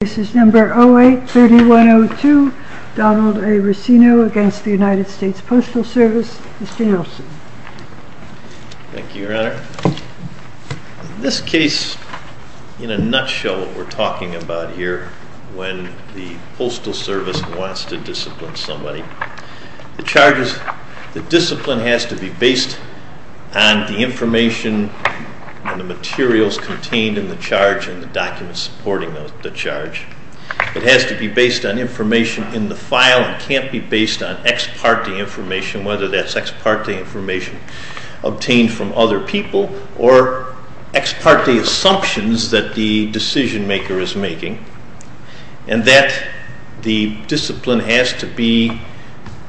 This is number 08-3102, Donald A. Racino against the United States Postal Service. Mr. Nelson. Thank you, Your Honor. In this case, in a nutshell, what we're talking about here, when the Postal Service wants to discipline somebody, the discipline has to be based on the information and the materials contained in the charge and the documents supporting the charge. It has to be based on information in the file and can't be based on ex parte information, whether that's ex parte information obtained from other people, or ex parte assumptions that the decision maker is making, and that the discipline has to be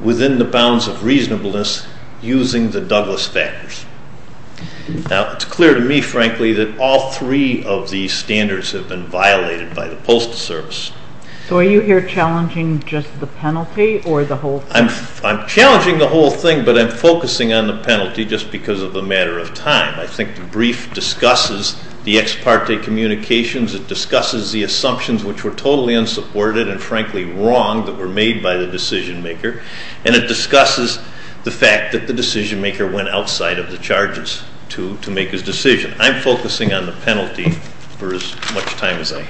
within the bounds of reasonableness using the Douglas factors. Now, it's clear to me, frankly, that all three of these standards have been violated by the Postal Service. So are you here challenging just the penalty or the whole thing? I'm challenging the whole thing, but I'm focusing on the penalty just because of the matter of time. I think the brief discusses the ex parte communications, it discusses the assumptions which were totally unsupported and frankly wrong that were made by the decision maker, and it discusses the fact that the decision maker went outside of the charges to make his decision. I'm focusing on the penalty for as much time as I have.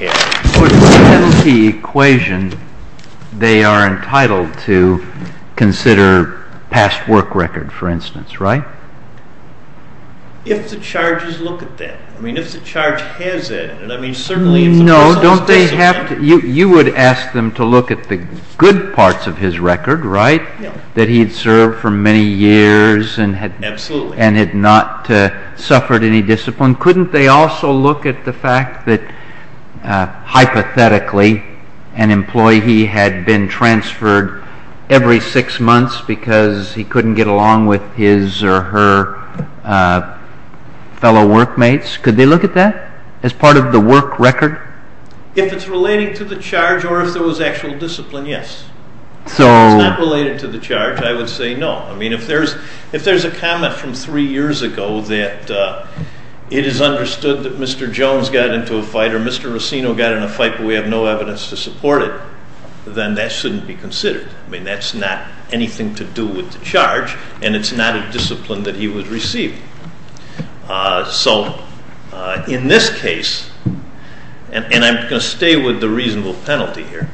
For the penalty equation, they are entitled to consider past work record, for instance, right? If the charges look at that. I mean, if the charge has that. No, don't they have to? You would ask them to look at the good parts of his record, right, that he had served for many years and had not suffered any discipline. Couldn't they also look at the fact that, hypothetically, an employee had been transferred every six months because he couldn't get along with his or her fellow workmates? Could they look at that as part of the work record? If it's relating to the charge or if there was actual discipline, yes. If it's not related to the charge, I would say no. I mean, if there's a comment from three years ago that it is understood that Mr. Jones got into a fight or Mr. Rossino got in a fight but we have no evidence to support it, then that shouldn't be considered. I mean, that's not anything to do with the charge, and it's not a discipline that he would receive. So in this case, and I'm going to stay with the reasonable penalty here,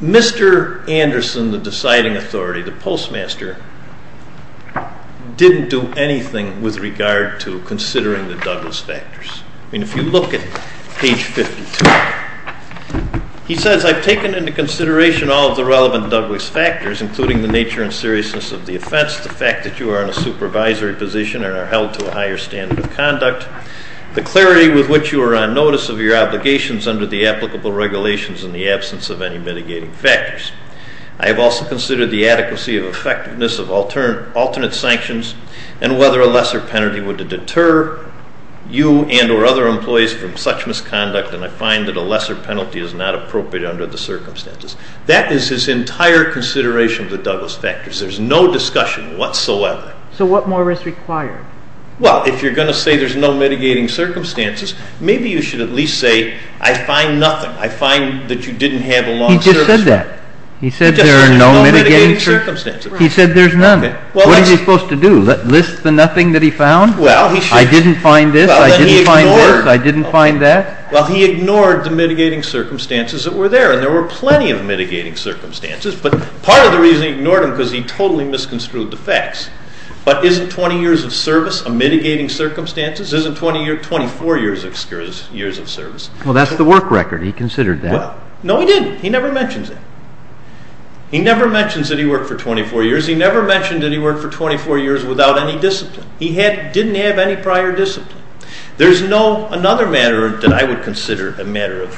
Mr. Anderson, the deciding authority, the postmaster, didn't do anything with regard to considering the Douglas factors. I mean, if you look at page 52, he says, I've taken into consideration all of the relevant Douglas factors, including the nature and seriousness of the offense, the fact that you are in a supervisory position and are held to a higher standard of conduct, the clarity with which you are on notice of your obligations under the applicable regulations in the absence of any mitigating factors. I have also considered the adequacy of effectiveness of alternate sanctions and whether a lesser penalty would deter you and or other employees from such misconduct, and I find that a lesser penalty is not appropriate under the circumstances. That is his entire consideration of the Douglas factors. There's no discussion whatsoever. So what more is required? Well, if you're going to say there's no mitigating circumstances, maybe you should at least say, I find nothing. I find that you didn't have a law of service. He just said that. He said there are no mitigating circumstances. He said there's none. What is he supposed to do? List the nothing that he found? I didn't find this. I didn't find this. I didn't find that. Well, he ignored the mitigating circumstances that were there, and there were plenty of mitigating circumstances, but part of the reason he ignored them was because he totally misconstrued the facts. But isn't 20 years of service a mitigating circumstances? Isn't 24 years of service? Well, that's the work record. He considered that. No, he didn't. He never mentions that. He never mentions that he worked for 24 years. He never mentioned that he worked for 24 years without any discipline. He didn't have any prior discipline. Another matter that I would consider a matter of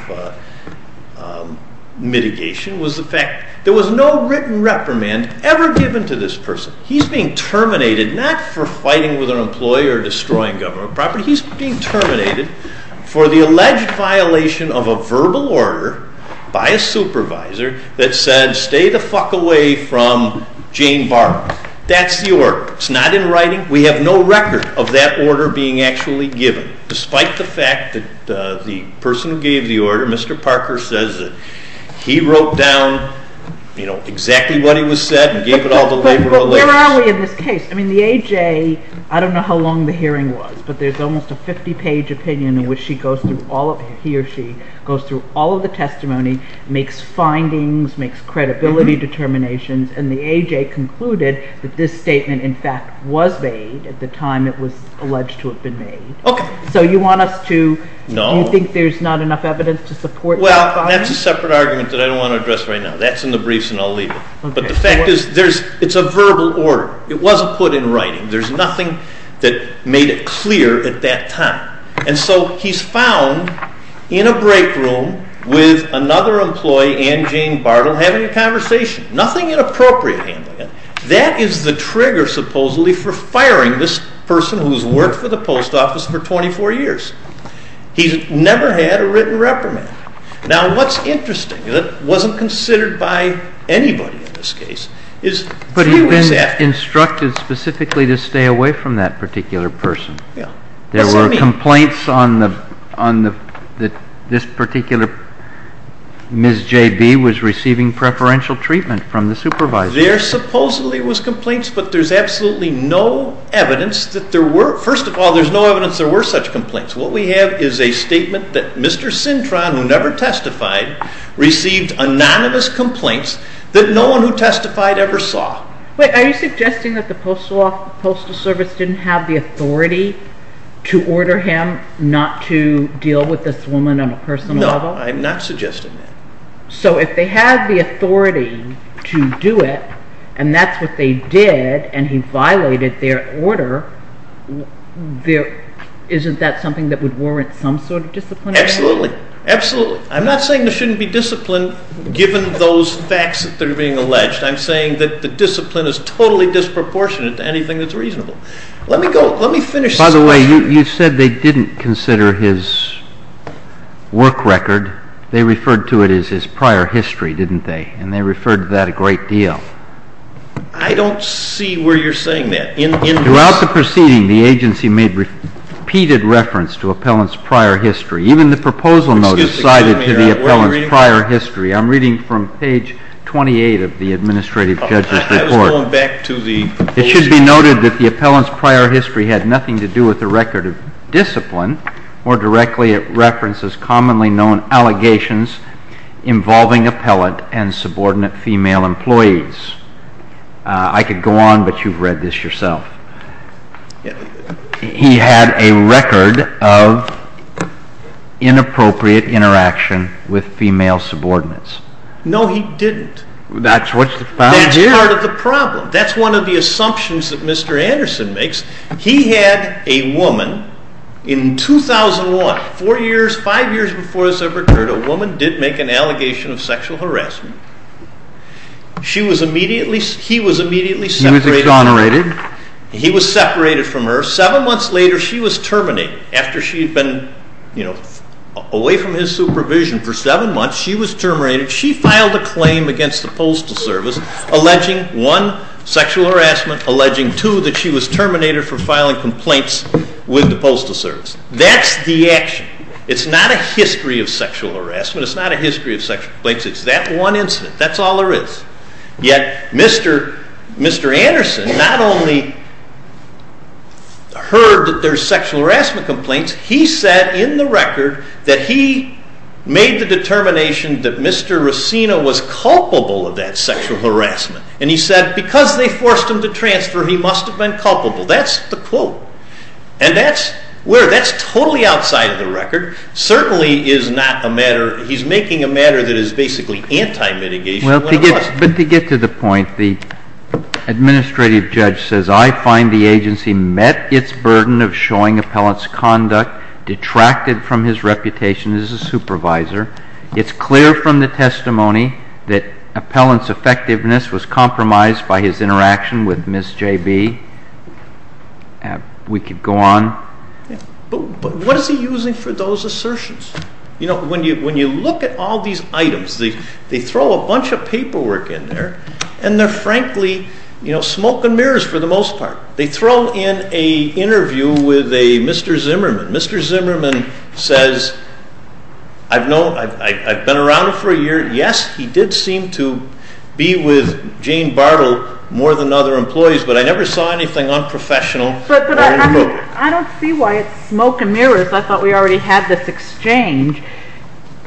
mitigation was the fact there was no written reprimand ever given to this person. He's being terminated not for fighting with an employee or destroying government property. He's being terminated for the alleged violation of a verbal order by a supervisor that said, stay the fuck away from Jane Barber. That's the order. It's not in writing. We have no record of that order being actually given. Despite the fact that the person who gave the order, Mr. Parker, says that he wrote down exactly what he was said and gave it all to labor lawyers. But where are we in this case? I mean, the AJ, I don't know how long the hearing was, but there's almost a 50-page opinion in which he or she goes through all of the testimony, makes findings, makes credibility determinations, and the AJ concluded that this statement, in fact, was made at the time it was alleged to have been made. Okay. So you want us to – No. Do you think there's not enough evidence to support that finding? Well, that's a separate argument that I don't want to address right now. That's in the briefs and I'll leave it. Okay. But the fact is it's a verbal order. It wasn't put in writing. There's nothing that made it clear at that time. And so he's found in a break room with another employee, Anne Jane Bartle, having a conversation. Nothing inappropriate handling it. That is the trigger, supposedly, for firing this person who's worked for the post office for 24 years. He's never had a written reprimand. Now, what's interesting that wasn't considered by anybody in this case is three weeks after – But he was instructed specifically to stay away from that particular person. Yeah. There were complaints that this particular Ms. J.B. was receiving preferential treatment from the supervisor. There supposedly was complaints, but there's absolutely no evidence that there were – First of all, there's no evidence there were such complaints. What we have is a statement that Mr. Cintron, who never testified, received anonymous complaints that no one who testified ever saw. Wait. Are you suggesting that the Postal Service didn't have the authority to order him not to deal with this woman on a personal level? No. I'm not suggesting that. So if they had the authority to do it, and that's what they did, and he violated their order, isn't that something that would warrant some sort of discipline? Absolutely. Absolutely. I'm not saying there shouldn't be discipline given those facts that they're being alleged. I'm saying that the discipline is totally disproportionate to anything that's reasonable. Let me finish this question. By the way, you said they didn't consider his work record. They referred to it as his prior history, didn't they? And they referred to that a great deal. I don't see where you're saying that. Throughout the proceeding, the agency made repeated reference to Appellant's prior history. Even the proposal notice cited to the Appellant's prior history. I'm reading from page 28 of the administrative judge's report. I was going back to the proposal notice. It should be noted that the Appellant's prior history had nothing to do with a record of discipline. More directly, it references commonly known allegations involving Appellant and subordinate female employees. I could go on, but you've read this yourself. He had a record of inappropriate interaction with female subordinates. No, he didn't. That's what's found here. That's part of the problem. That's one of the assumptions that Mr. Anderson makes. He had a woman in 2001, four years, five years before this ever occurred, a woman did make an allegation of sexual harassment. She was immediately, he was immediately separated. He was exonerated. He was separated from her. Seven months later, she was terminated. After she had been away from his supervision for seven months, she was terminated. She filed a claim against the Postal Service alleging, one, sexual harassment, alleging, two, that she was terminated for filing complaints with the Postal Service. That's the action. It's not a history of sexual harassment. It's not a history of sexual complaints. It's that one incident. That's all there is. Yet, Mr. Anderson not only heard that there's sexual harassment complaints, he said in the record that he made the determination that Mr. Racina was culpable of that sexual harassment. And he said, because they forced him to transfer, he must have been culpable. That's the quote. And that's where, that's totally outside of the record. Certainly is not a matter, he's making a matter that is basically anti-mitigation. But to get to the point, the administrative judge says, I find the agency met its burden of showing appellant's conduct detracted from his reputation as a supervisor. It's clear from the testimony that appellant's effectiveness was compromised by his interaction with Ms. J.B. We could go on. But what is he using for those assertions? When you look at all these items, they throw a bunch of paperwork in there, and they're frankly smoke and mirrors for the most part. They throw in an interview with a Mr. Zimmerman. Mr. Zimmerman says, I've known, I've been around him for a year. Yes, he did seem to be with Jane Bartle more than other employees, but I never saw anything unprofessional. But I don't see why it's smoke and mirrors. I thought we already had this exchange.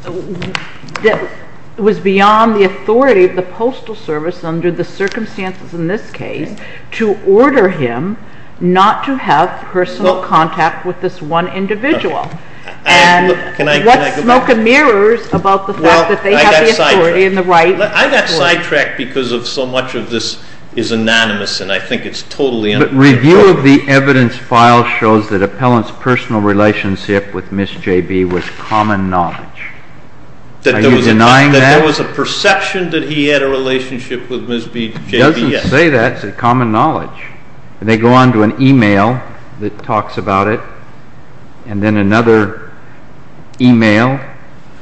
It was beyond the authority of the Postal Service under the circumstances in this case to order him not to have personal contact with this one individual. And what's smoke and mirrors about the fact that they have the authority and the right? I got sidetracked because so much of this is anonymous, and I think it's totally unprofessional. But review of the evidence file shows that appellant's personal relationship with Ms. J.B. was common knowledge. Are you denying that? That there was a perception that he had a relationship with Ms. J.B.? It doesn't say that. It's a common knowledge. And they go on to an email that talks about it, and then another email,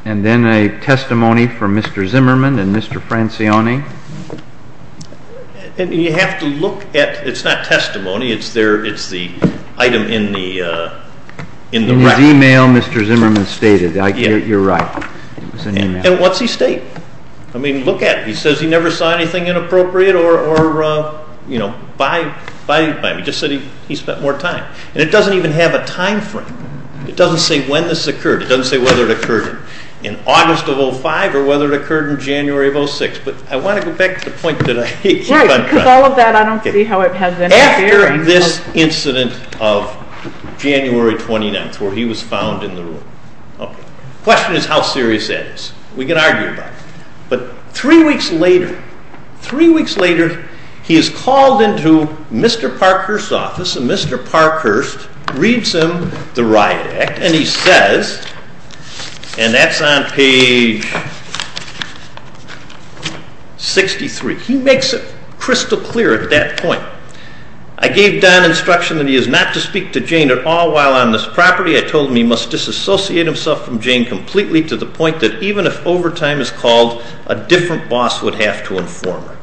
and then a testimony from Mr. Zimmerman and Mr. Francione. And you have to look at, it's not testimony, it's the item in the record. In his email, Mr. Zimmerman stated. You're right. And what's he state? I mean, look at it. He says he never saw anything inappropriate or, you know, by him. He just said he spent more time. And it doesn't even have a time frame. It doesn't say when this occurred. It doesn't say whether it occurred in August of 2005 or whether it occurred in January of 2006. But I want to go back to the point that I keep on trying. Right, because all of that, I don't see how it has any bearing. After this incident of January 29th, where he was found in the room. Okay. The question is how serious that is. We can argue about it. But three weeks later, three weeks later, he is called into Mr. Parkhurst's office, and Mr. Parkhurst reads him the Riot Act. And he says, and that's on page 63. He makes it crystal clear at that point. I gave Don instruction that he is not to speak to Jane at all while on this property. I told him he must disassociate himself from Jane completely to the point that even if overtime is called, a different boss would have to inform her.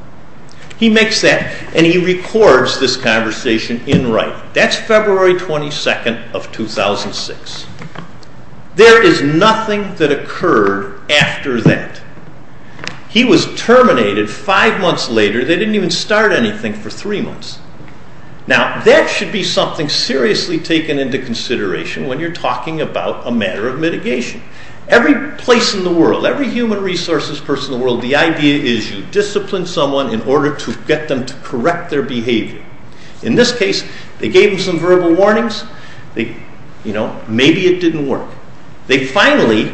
He makes that, and he records this conversation in writing. That's February 22nd of 2006. There is nothing that occurred after that. He was terminated five months later. They didn't even start anything for three months. Now, that should be something seriously taken into consideration when you're talking about a matter of mitigation. Every place in the world, every human resources person in the world, the idea is you discipline someone in order to get them to correct their behavior. In this case, they gave him some verbal warnings. Maybe it didn't work. They finally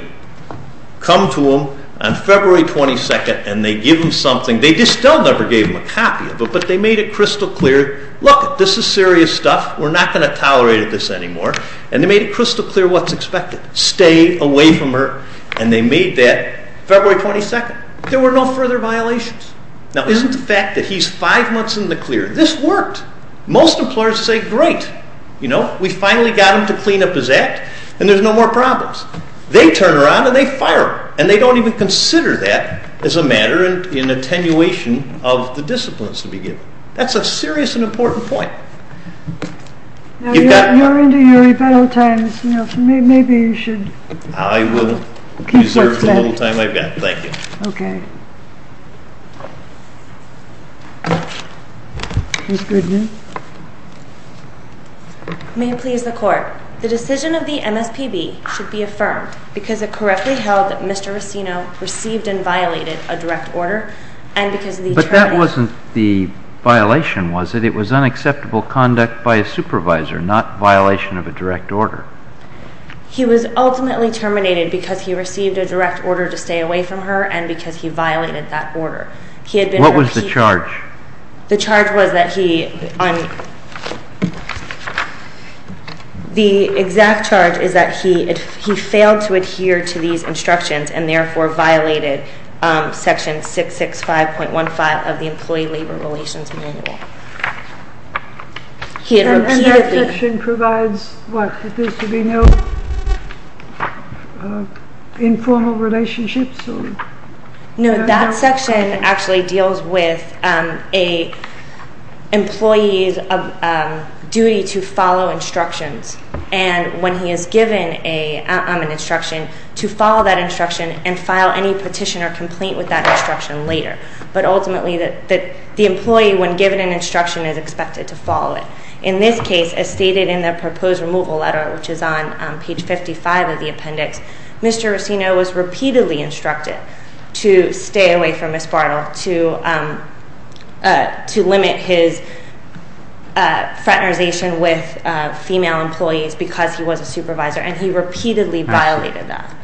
come to him on February 22nd, and they give him something. They still never gave him a copy of it, but they made it crystal clear, look, this is serious stuff. We're not going to tolerate this anymore. And they made it crystal clear what's expected. Stay away from her. And they made that February 22nd. There were no further violations. Now, isn't the fact that he's five months in the clear? This worked. Most employers say, great, you know, we finally got him to clean up his act, and there's no more problems. They turn around, and they fire him. And they don't even consider that as a matter in attenuation of the disciplines to be given. That's a serious and important point. You're into your rebuttal time, Mr. Nelson. Maybe you should keep what's left. I will reserve the little time I've got. Thank you. Okay. May it please the Court, the decision of the MSPB should be affirmed because it correctly held that Mr. Racino received and violated a direct order, and because of the terminating. But that wasn't the violation, was it? It was unacceptable conduct by a supervisor, not violation of a direct order. He was ultimately terminated because he received a direct order to stay away from her and because he violated that order. What was the charge? The exact charge is that he failed to adhere to these instructions and therefore violated Section 665.15 of the Employee Labor Relations Manual. And that section provides what? That there should be no informal relationships? No, that section actually deals with an employee's duty to follow instructions. And when he is given an instruction, to follow that instruction and file any petition or complaint with that instruction later. But ultimately, the employee, when given an instruction, is expected to follow it. In this case, as stated in the proposed removal letter, which is on page 55 of the appendix, Mr. Racino was repeatedly instructed to stay away from Ms. Bartle, to limit his fraternization with female employees because he was a supervisor, and he repeatedly violated that.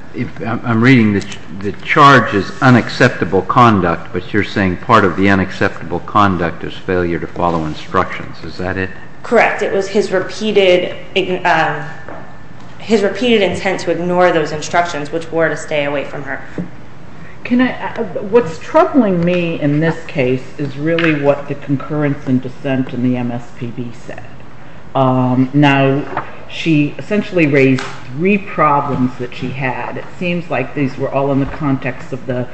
I'm reading the charge is unacceptable conduct, but you're saying part of the unacceptable conduct is failure to follow instructions. Is that it? Correct. It was his repeated intent to ignore those instructions, which were to stay away from her. What's troubling me in this case is really what the concurrence and dissent in the MSPB said. Now, she essentially raised three problems that she had. It seems like these were all in the context of the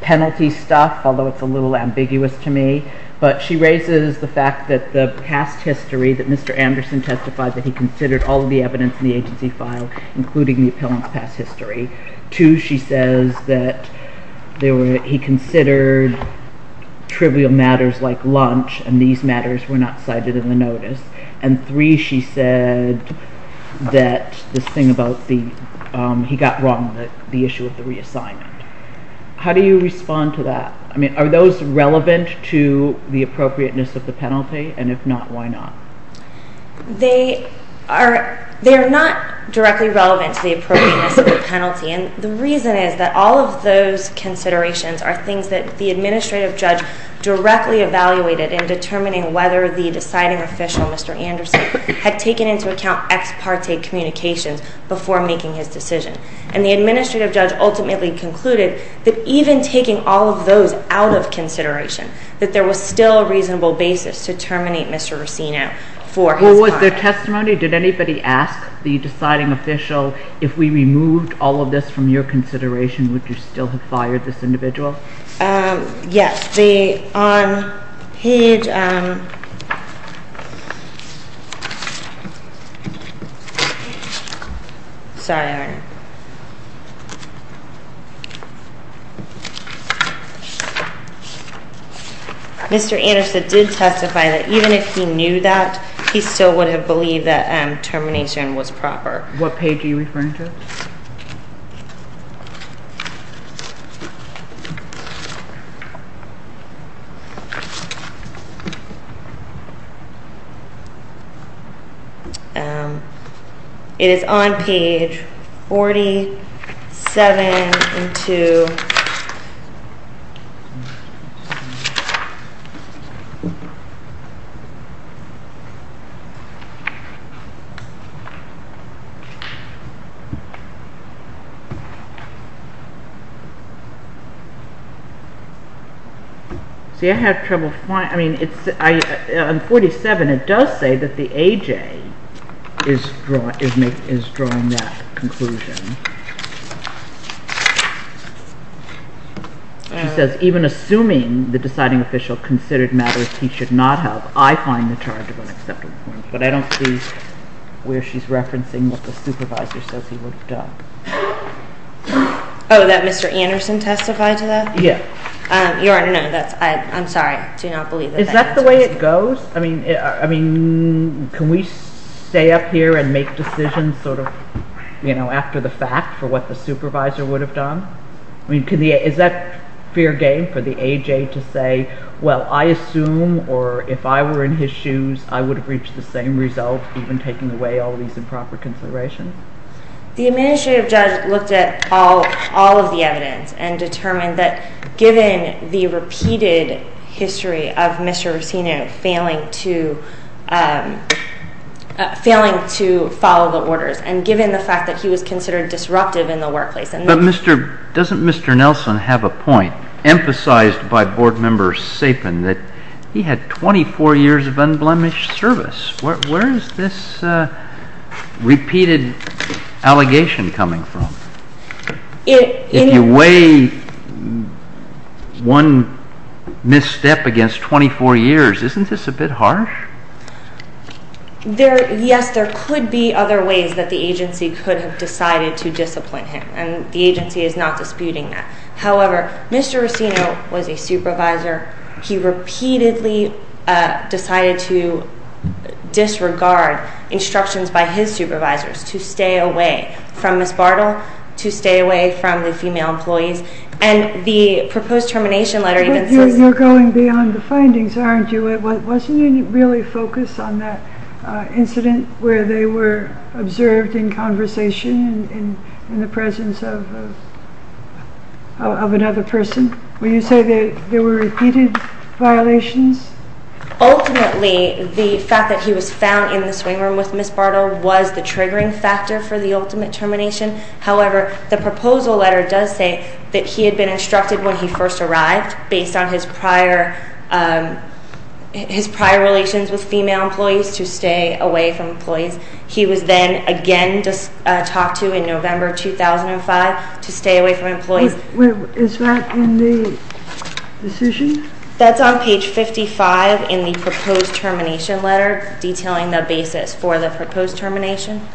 penalty stuff, although it's a little ambiguous to me. But she raises the fact that the past history that Mr. Anderson testified that he considered all of the evidence in the agency file, including the appellant's past history. Two, she says that he considered trivial matters like lunch, and these matters were not cited in the notice. And three, she said that this thing about he got wrong on the issue of the reassignment. How do you respond to that? I mean, are those relevant to the appropriateness of the penalty? And if not, why not? They are not directly relevant to the appropriateness of the penalty, and the reason is that all of those considerations are things that the administrative judge directly evaluated in determining whether the deciding official, Mr. Anderson, had taken into account ex parte communications before making his decision. And the administrative judge ultimately concluded that even taking all of those out of consideration, that there was still a reasonable basis to terminate Mr. Rossino for his crime. Well, was there testimony? Did anybody ask the deciding official, if we removed all of this from your consideration, would you still have fired this individual? Yes. Mr. Anderson did testify that even if he knew that, he still would have believed that termination was proper. What page are you referring to? It is on page 47 and 2. See, I have trouble finding. I mean, on 47, it does say that the AJ is drawing that conclusion. It says, even assuming the deciding official considered matters he should not have, I find the charge of unacceptable. But I don't see where she's referencing what the supervisor says he would have done. Oh, that Mr. Anderson testified to that? Yeah. Your Honor, no, I'm sorry. I do not believe that. Is that the way it goes? I mean, can we stay up here and make decisions sort of, you know, after the fact for what the supervisor would have done? I mean, is that fair game for the AJ to say, well, I assume, or if I were in his shoes, I would have reached the same result even taking away all of these improper considerations? The administrative judge looked at all of the evidence and determined that given the repeated history of Mr. Racino failing to follow the orders and given the fact that he was considered disruptive in the workplace. But doesn't Mr. Nelson have a point emphasized by Board Member Sapin that he had 24 years of unblemished service? Where is this repeated allegation coming from? If you weigh one misstep against 24 years, isn't this a bit harsh? Yes, there could be other ways that the agency could have decided to discipline him, and the agency is not disputing that. However, Mr. Racino was a supervisor. He repeatedly decided to disregard instructions by his supervisors to stay away from Ms. Bartle, to stay away from the female employees, and the proposed termination letter even says... You're going beyond the findings, aren't you? Wasn't he really focused on that incident where they were observed in conversation in the presence of another person? Will you say that there were repeated violations? Ultimately, the fact that he was found in the swing room with Ms. Bartle was the triggering factor for the ultimate termination. However, the proposal letter does say that he had been instructed when he first arrived based on his prior relations with female employees to stay away from employees. He was then again talked to in November 2005 to stay away from employees. Is that in the decision? That's on page 55 in the proposed termination letter detailing the basis for the proposed termination.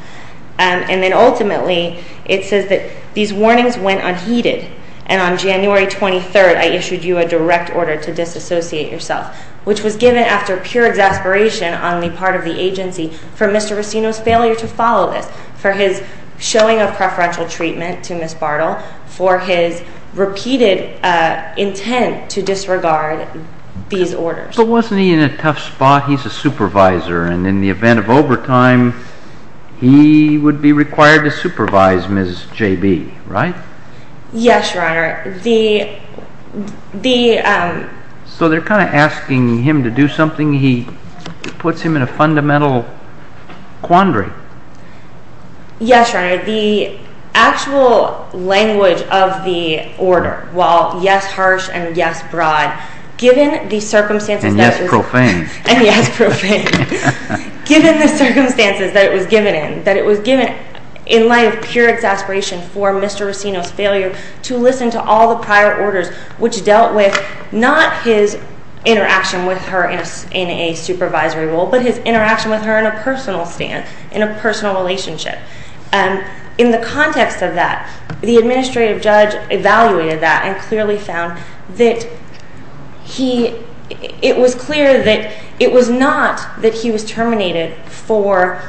And then ultimately, it says that these warnings went unheeded, and on January 23rd I issued you a direct order to disassociate yourself, which was given after pure exasperation on the part of the agency for Mr. Racino's failure to follow this, for his showing of preferential treatment to Ms. Bartle, for his repeated intent to disregard these orders. But wasn't he in a tough spot? He's a supervisor, and in the event of overtime, he would be required to supervise Ms. JB, right? Yes, Your Honor. So they're kind of asking him to do something. It puts him in a fundamental quandary. Yes, Your Honor. The actual language of the order, while yes, harsh and yes, broad, given the circumstances that it was given in, in light of pure exasperation for Mr. Racino's failure to listen to all the prior orders, which dealt with not his interaction with her in a supervisory role, but his interaction with her in a personal stand, in a personal relationship. In the context of that, the administrative judge evaluated that and clearly found that it was clear that it was not that he was terminated for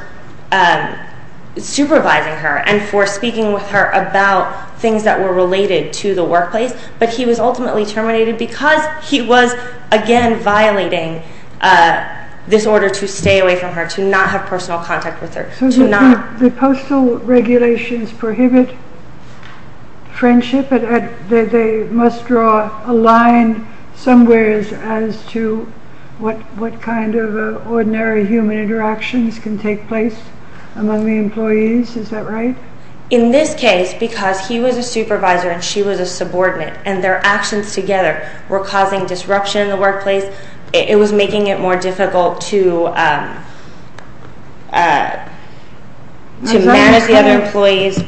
supervising her and for speaking with her about things that were related to the workplace, but he was ultimately terminated because he was, again, violating this order to stay away from her, to not have personal contact with her. So the postal regulations prohibit friendship? They must draw a line somewhere as to what kind of ordinary human interactions can take place among the employees? Is that right? In this case, because he was a supervisor and she was a subordinate it was making it more difficult to manage the other employees.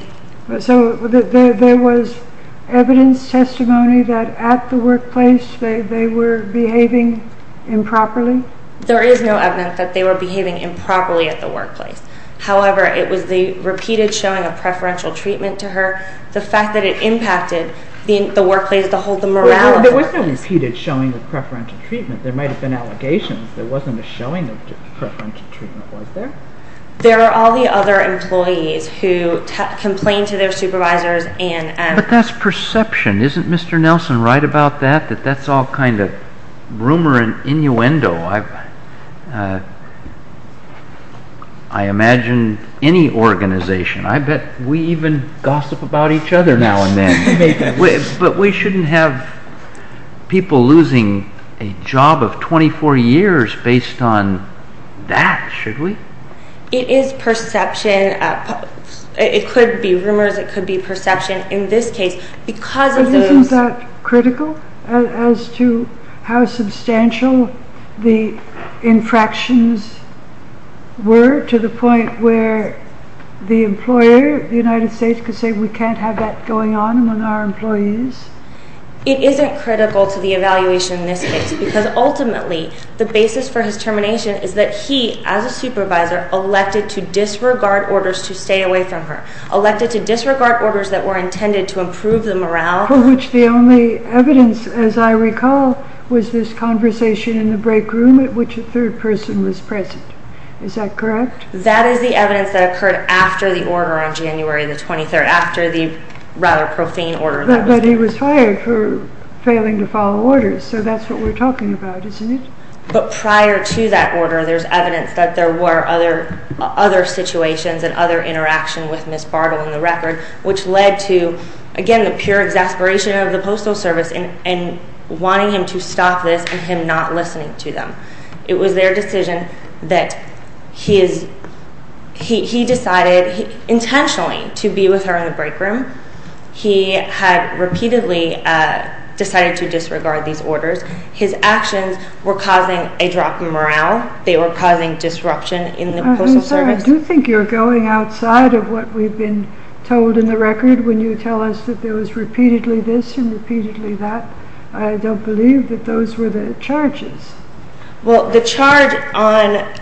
So there was evidence, testimony that at the workplace they were behaving improperly? There is no evidence that they were behaving improperly at the workplace. However, it was the repeated showing of preferential treatment to her, the fact that it impacted the workplace, the morale of the workplace. But there was no repeated showing of preferential treatment. There might have been allegations. There wasn't a showing of preferential treatment, was there? There were all the other employees who complained to their supervisors. But that's perception. Isn't Mr. Nelson right about that, that that's all kind of rumor and innuendo? I imagine any organization, I bet we even gossip about each other now and then. But we shouldn't have people losing a job of 24 years based on that, should we? It is perception. It could be rumors, it could be perception. But isn't that critical as to how substantial the infractions were to the point where the employer, the United States, could say we can't have that going on among our employees? It isn't critical to the evaluation in this case because ultimately the basis for his termination is that he, as a supervisor, elected to disregard orders to stay away from her, elected to disregard orders that were intended to improve the morale. For which the only evidence, as I recall, was this conversation in the break room at which a third person was present. Is that correct? That is the evidence that occurred after the order on January the 23rd, after the rather profane order. But he was fired for failing to follow orders, so that's what we're talking about, isn't it? But prior to that order there's evidence that there were other situations and other interactions with Ms. Bartle in the record, which led to, again, the pure exasperation of the Postal Service in wanting him to stop this and him not listening to them. It was their decision that he decided intentionally to be with her in the break room. He had repeatedly decided to disregard these orders. His actions were causing a drop in morale. They were causing disruption in the Postal Service. I do think you're going outside of what we've been told in the record when you tell us that there was repeatedly this and repeatedly that. I don't believe that those were the charges. Well, the charge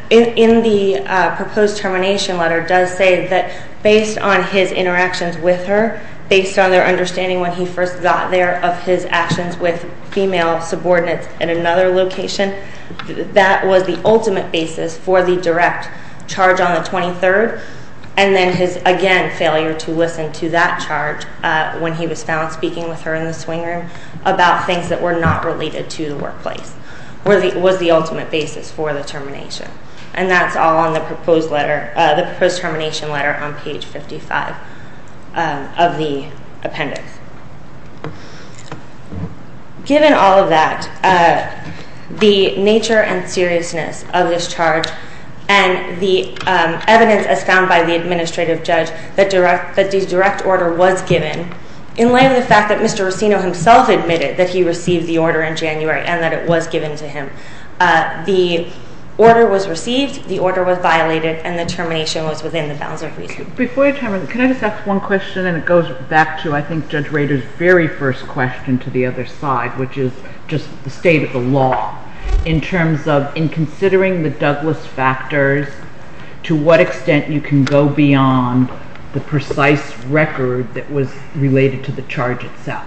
in the proposed termination letter does say that based on his interactions with her, based on their understanding when he first got there of his actions with female subordinates in another location, that was the ultimate basis for the direct charge on the 23rd and then his, again, failure to listen to that charge when he was found speaking with her in the swing room about things that were not related to the workplace. It was the ultimate basis for the termination. And that's all on the proposed termination letter on page 55 of the appendix. Given all of that, the nature and seriousness of this charge and the evidence as found by the administrative judge that the direct order was given in light of the fact that Mr. Rossino himself admitted that he received the order in January and that it was given to him. The order was received, the order was violated, and the termination was within the bounds of reason. Before I turn, can I just ask one question? And it goes back to, I think, Judge Rader's very first question to the other side, which is just the state of the law in terms of in considering the Douglas factors, to what extent you can go beyond the precise record that was related to the charge itself.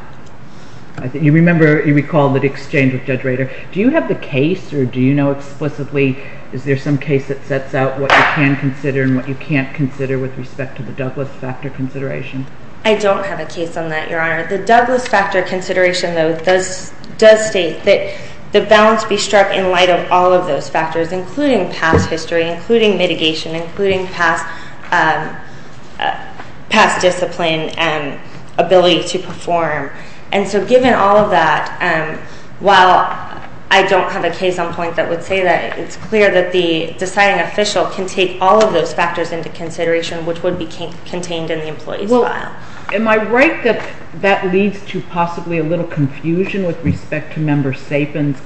You recall that exchange with Judge Rader. Do you have the case, or do you know explicitly, is there some case that sets out what you can consider and what you can't consider with respect to the Douglas factor consideration? I don't have a case on that, Your Honor. The Douglas factor consideration, though, does state that the bounds be struck in light of all of those factors, including past history, including mitigation, including past discipline and ability to perform. And so given all of that, while I don't have a case on point that would say that, it's clear that the deciding official can take all of those factors into consideration, which would be contained in the employee's file. Well, am I right that that leads to possibly a little confusion with respect to Member Sapin's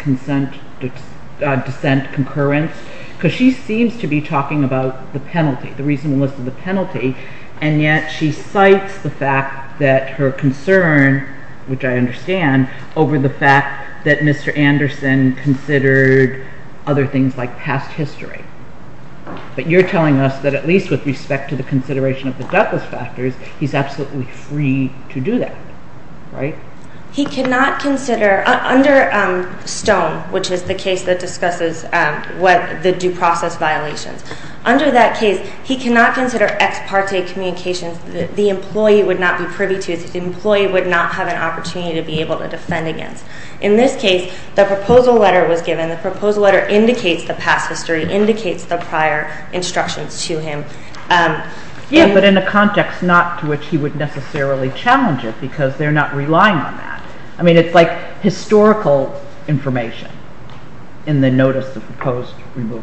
dissent concurrence? Because she seems to be talking about the penalty, the reasonableness of the penalty, and yet she cites the fact that her concern, which I understand, over the fact that Mr. Anderson considered other things like past history. But you're telling us that at least with respect to the consideration of the Douglas factors, he's absolutely free to do that, right? He cannot consider under Stone, which is the case that discusses the due process violations. Under that case, he cannot consider ex parte communications that the employee would not be privy to, that the employee would not have an opportunity to be able to defend against. In this case, the proposal letter was given. The proposal letter indicates the past history, indicates the prior instructions to him. Yeah, but in a context not to which he would necessarily challenge it, because they're not relying on that. I mean, it's like historical information in the notice of the proposed removal.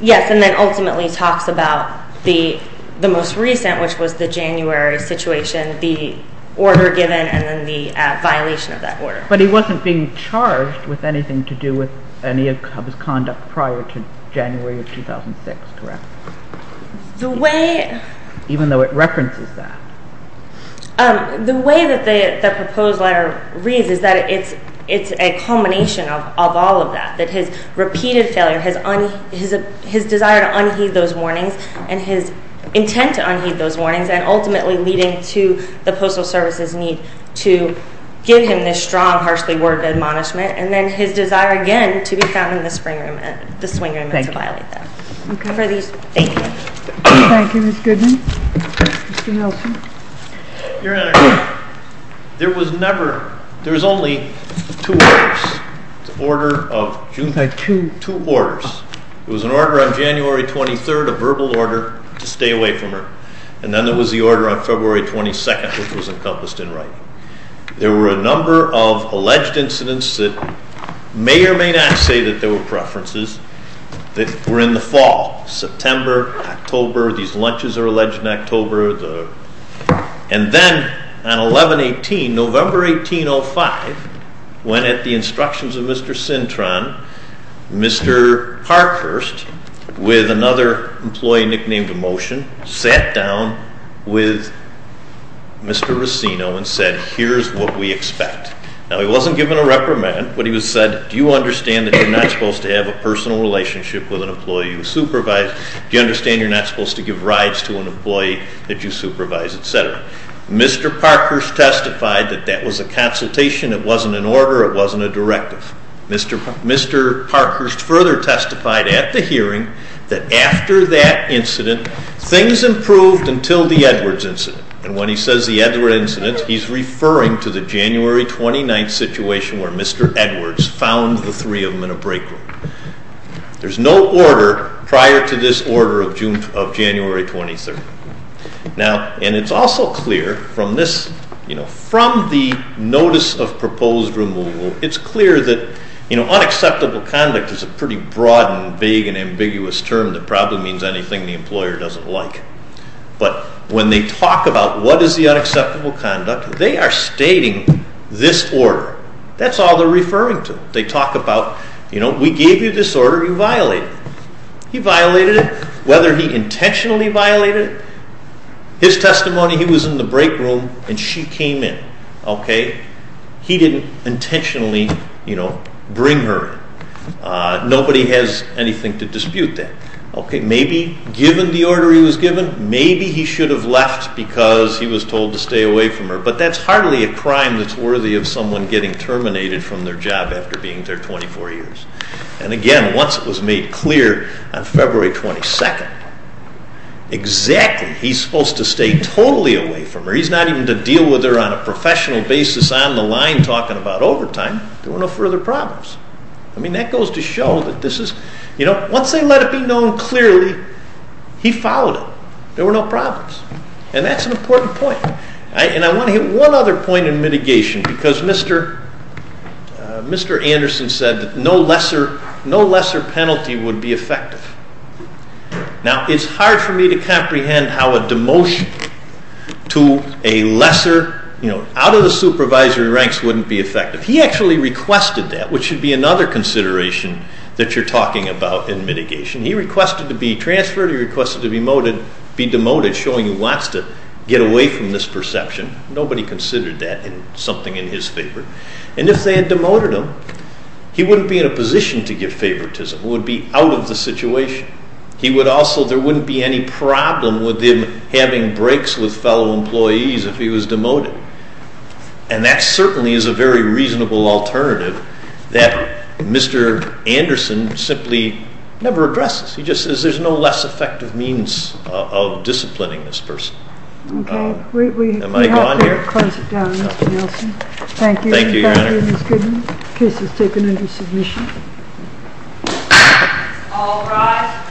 Yes, and then ultimately talks about the most recent, which was the January situation, the order given and then the violation of that order. But he wasn't being charged with anything to do with any of his conduct prior to January of 2006, correct? Even though it references that. The way that the proposed letter reads is that it's a culmination of all of that, that his repeated failure, his desire to unheed those warnings and his intent to unheed those warnings and ultimately leading to the Postal Service's need to give him this strong, harshly worded admonishment and then his desire again to be found in the swing room and to violate that. Thank you. Thank you, Ms. Goodman. Mr. Nelson. Your Honor, there was never, there was only two orders. It was an order on January 23rd, a verbal order to stay away from her. And then there was the order on February 22nd, which was encompassed in writing. There were a number of alleged incidents that may or may not say that there were preferences that were in the fall, September, October. These lunches are alleged in October. And then on 11-18, November 1805, when at the instructions of Mr. Cintron, Mr. Parkhurst, with another employee nicknamed Emotion, sat down with Mr. Racino and said, here's what we expect. Now, he wasn't given a reprimand, but he was said, do you understand that you're not supposed to have a personal relationship with an employee you supervise? Do you understand you're not supposed to give rides to an employee that you supervise, et cetera? Mr. Parkhurst testified that that was a consultation, it wasn't an order, it wasn't a directive. Mr. Parkhurst further testified at the hearing that after that incident, things improved until the Edwards incident. And when he says the Edwards incident, he's referring to the January 29th situation where Mr. Edwards found the three of them in a break room. There's no order prior to this order of January 23rd. Now, and it's also clear from this, you know, from the notice of proposed removal, it's clear that, you know, unacceptable conduct is a pretty broad and vague and ambiguous term that probably means anything the employer doesn't like. But when they talk about what is the unacceptable conduct, they are stating this order. That's all they're referring to. They talk about, you know, we gave you this order, you violated it. He violated it. Whether he intentionally violated it, his testimony, he was in the break room and she came in, okay? He didn't intentionally, you know, bring her in. Nobody has anything to dispute that. Okay, maybe given the order he was given, maybe he should have left because he was told to stay away from her. But that's hardly a crime that's worthy of someone getting terminated from their job after being there 24 years. And again, once it was made clear on February 22nd, exactly, he's supposed to stay totally away from her. He's not even to deal with her on a professional basis on the line talking about overtime. There were no further problems. I mean, that goes to show that this is, you know, once they let it be known clearly, he followed it. There were no problems. And that's an important point. And I want to hit one other point in mitigation because Mr. Anderson said that no lesser penalty would be effective. Now, it's hard for me to comprehend how a demotion to a lesser, you know, out of the supervisory ranks wouldn't be effective. He actually requested that, which should be another consideration that you're talking about in mitigation. He requested to be transferred. He requested to be demoted, showing he wants to get away from this perception. Nobody considered that something in his favor. And if they had demoted him, he wouldn't be in a position to give favoritism. He would be out of the situation. He would also, there wouldn't be any problem with him having breaks with fellow employees if he was demoted. And that certainly is a very reasonable alternative that Mr. Anderson simply never addresses. He just says there's no less effective means of disciplining this person. Okay. Am I gone here? We have to close it down, Mr. Nelson. Thank you. Thank you, Your Honor. Thank you, Ms. Goodman. Case is taken under submission. All rise.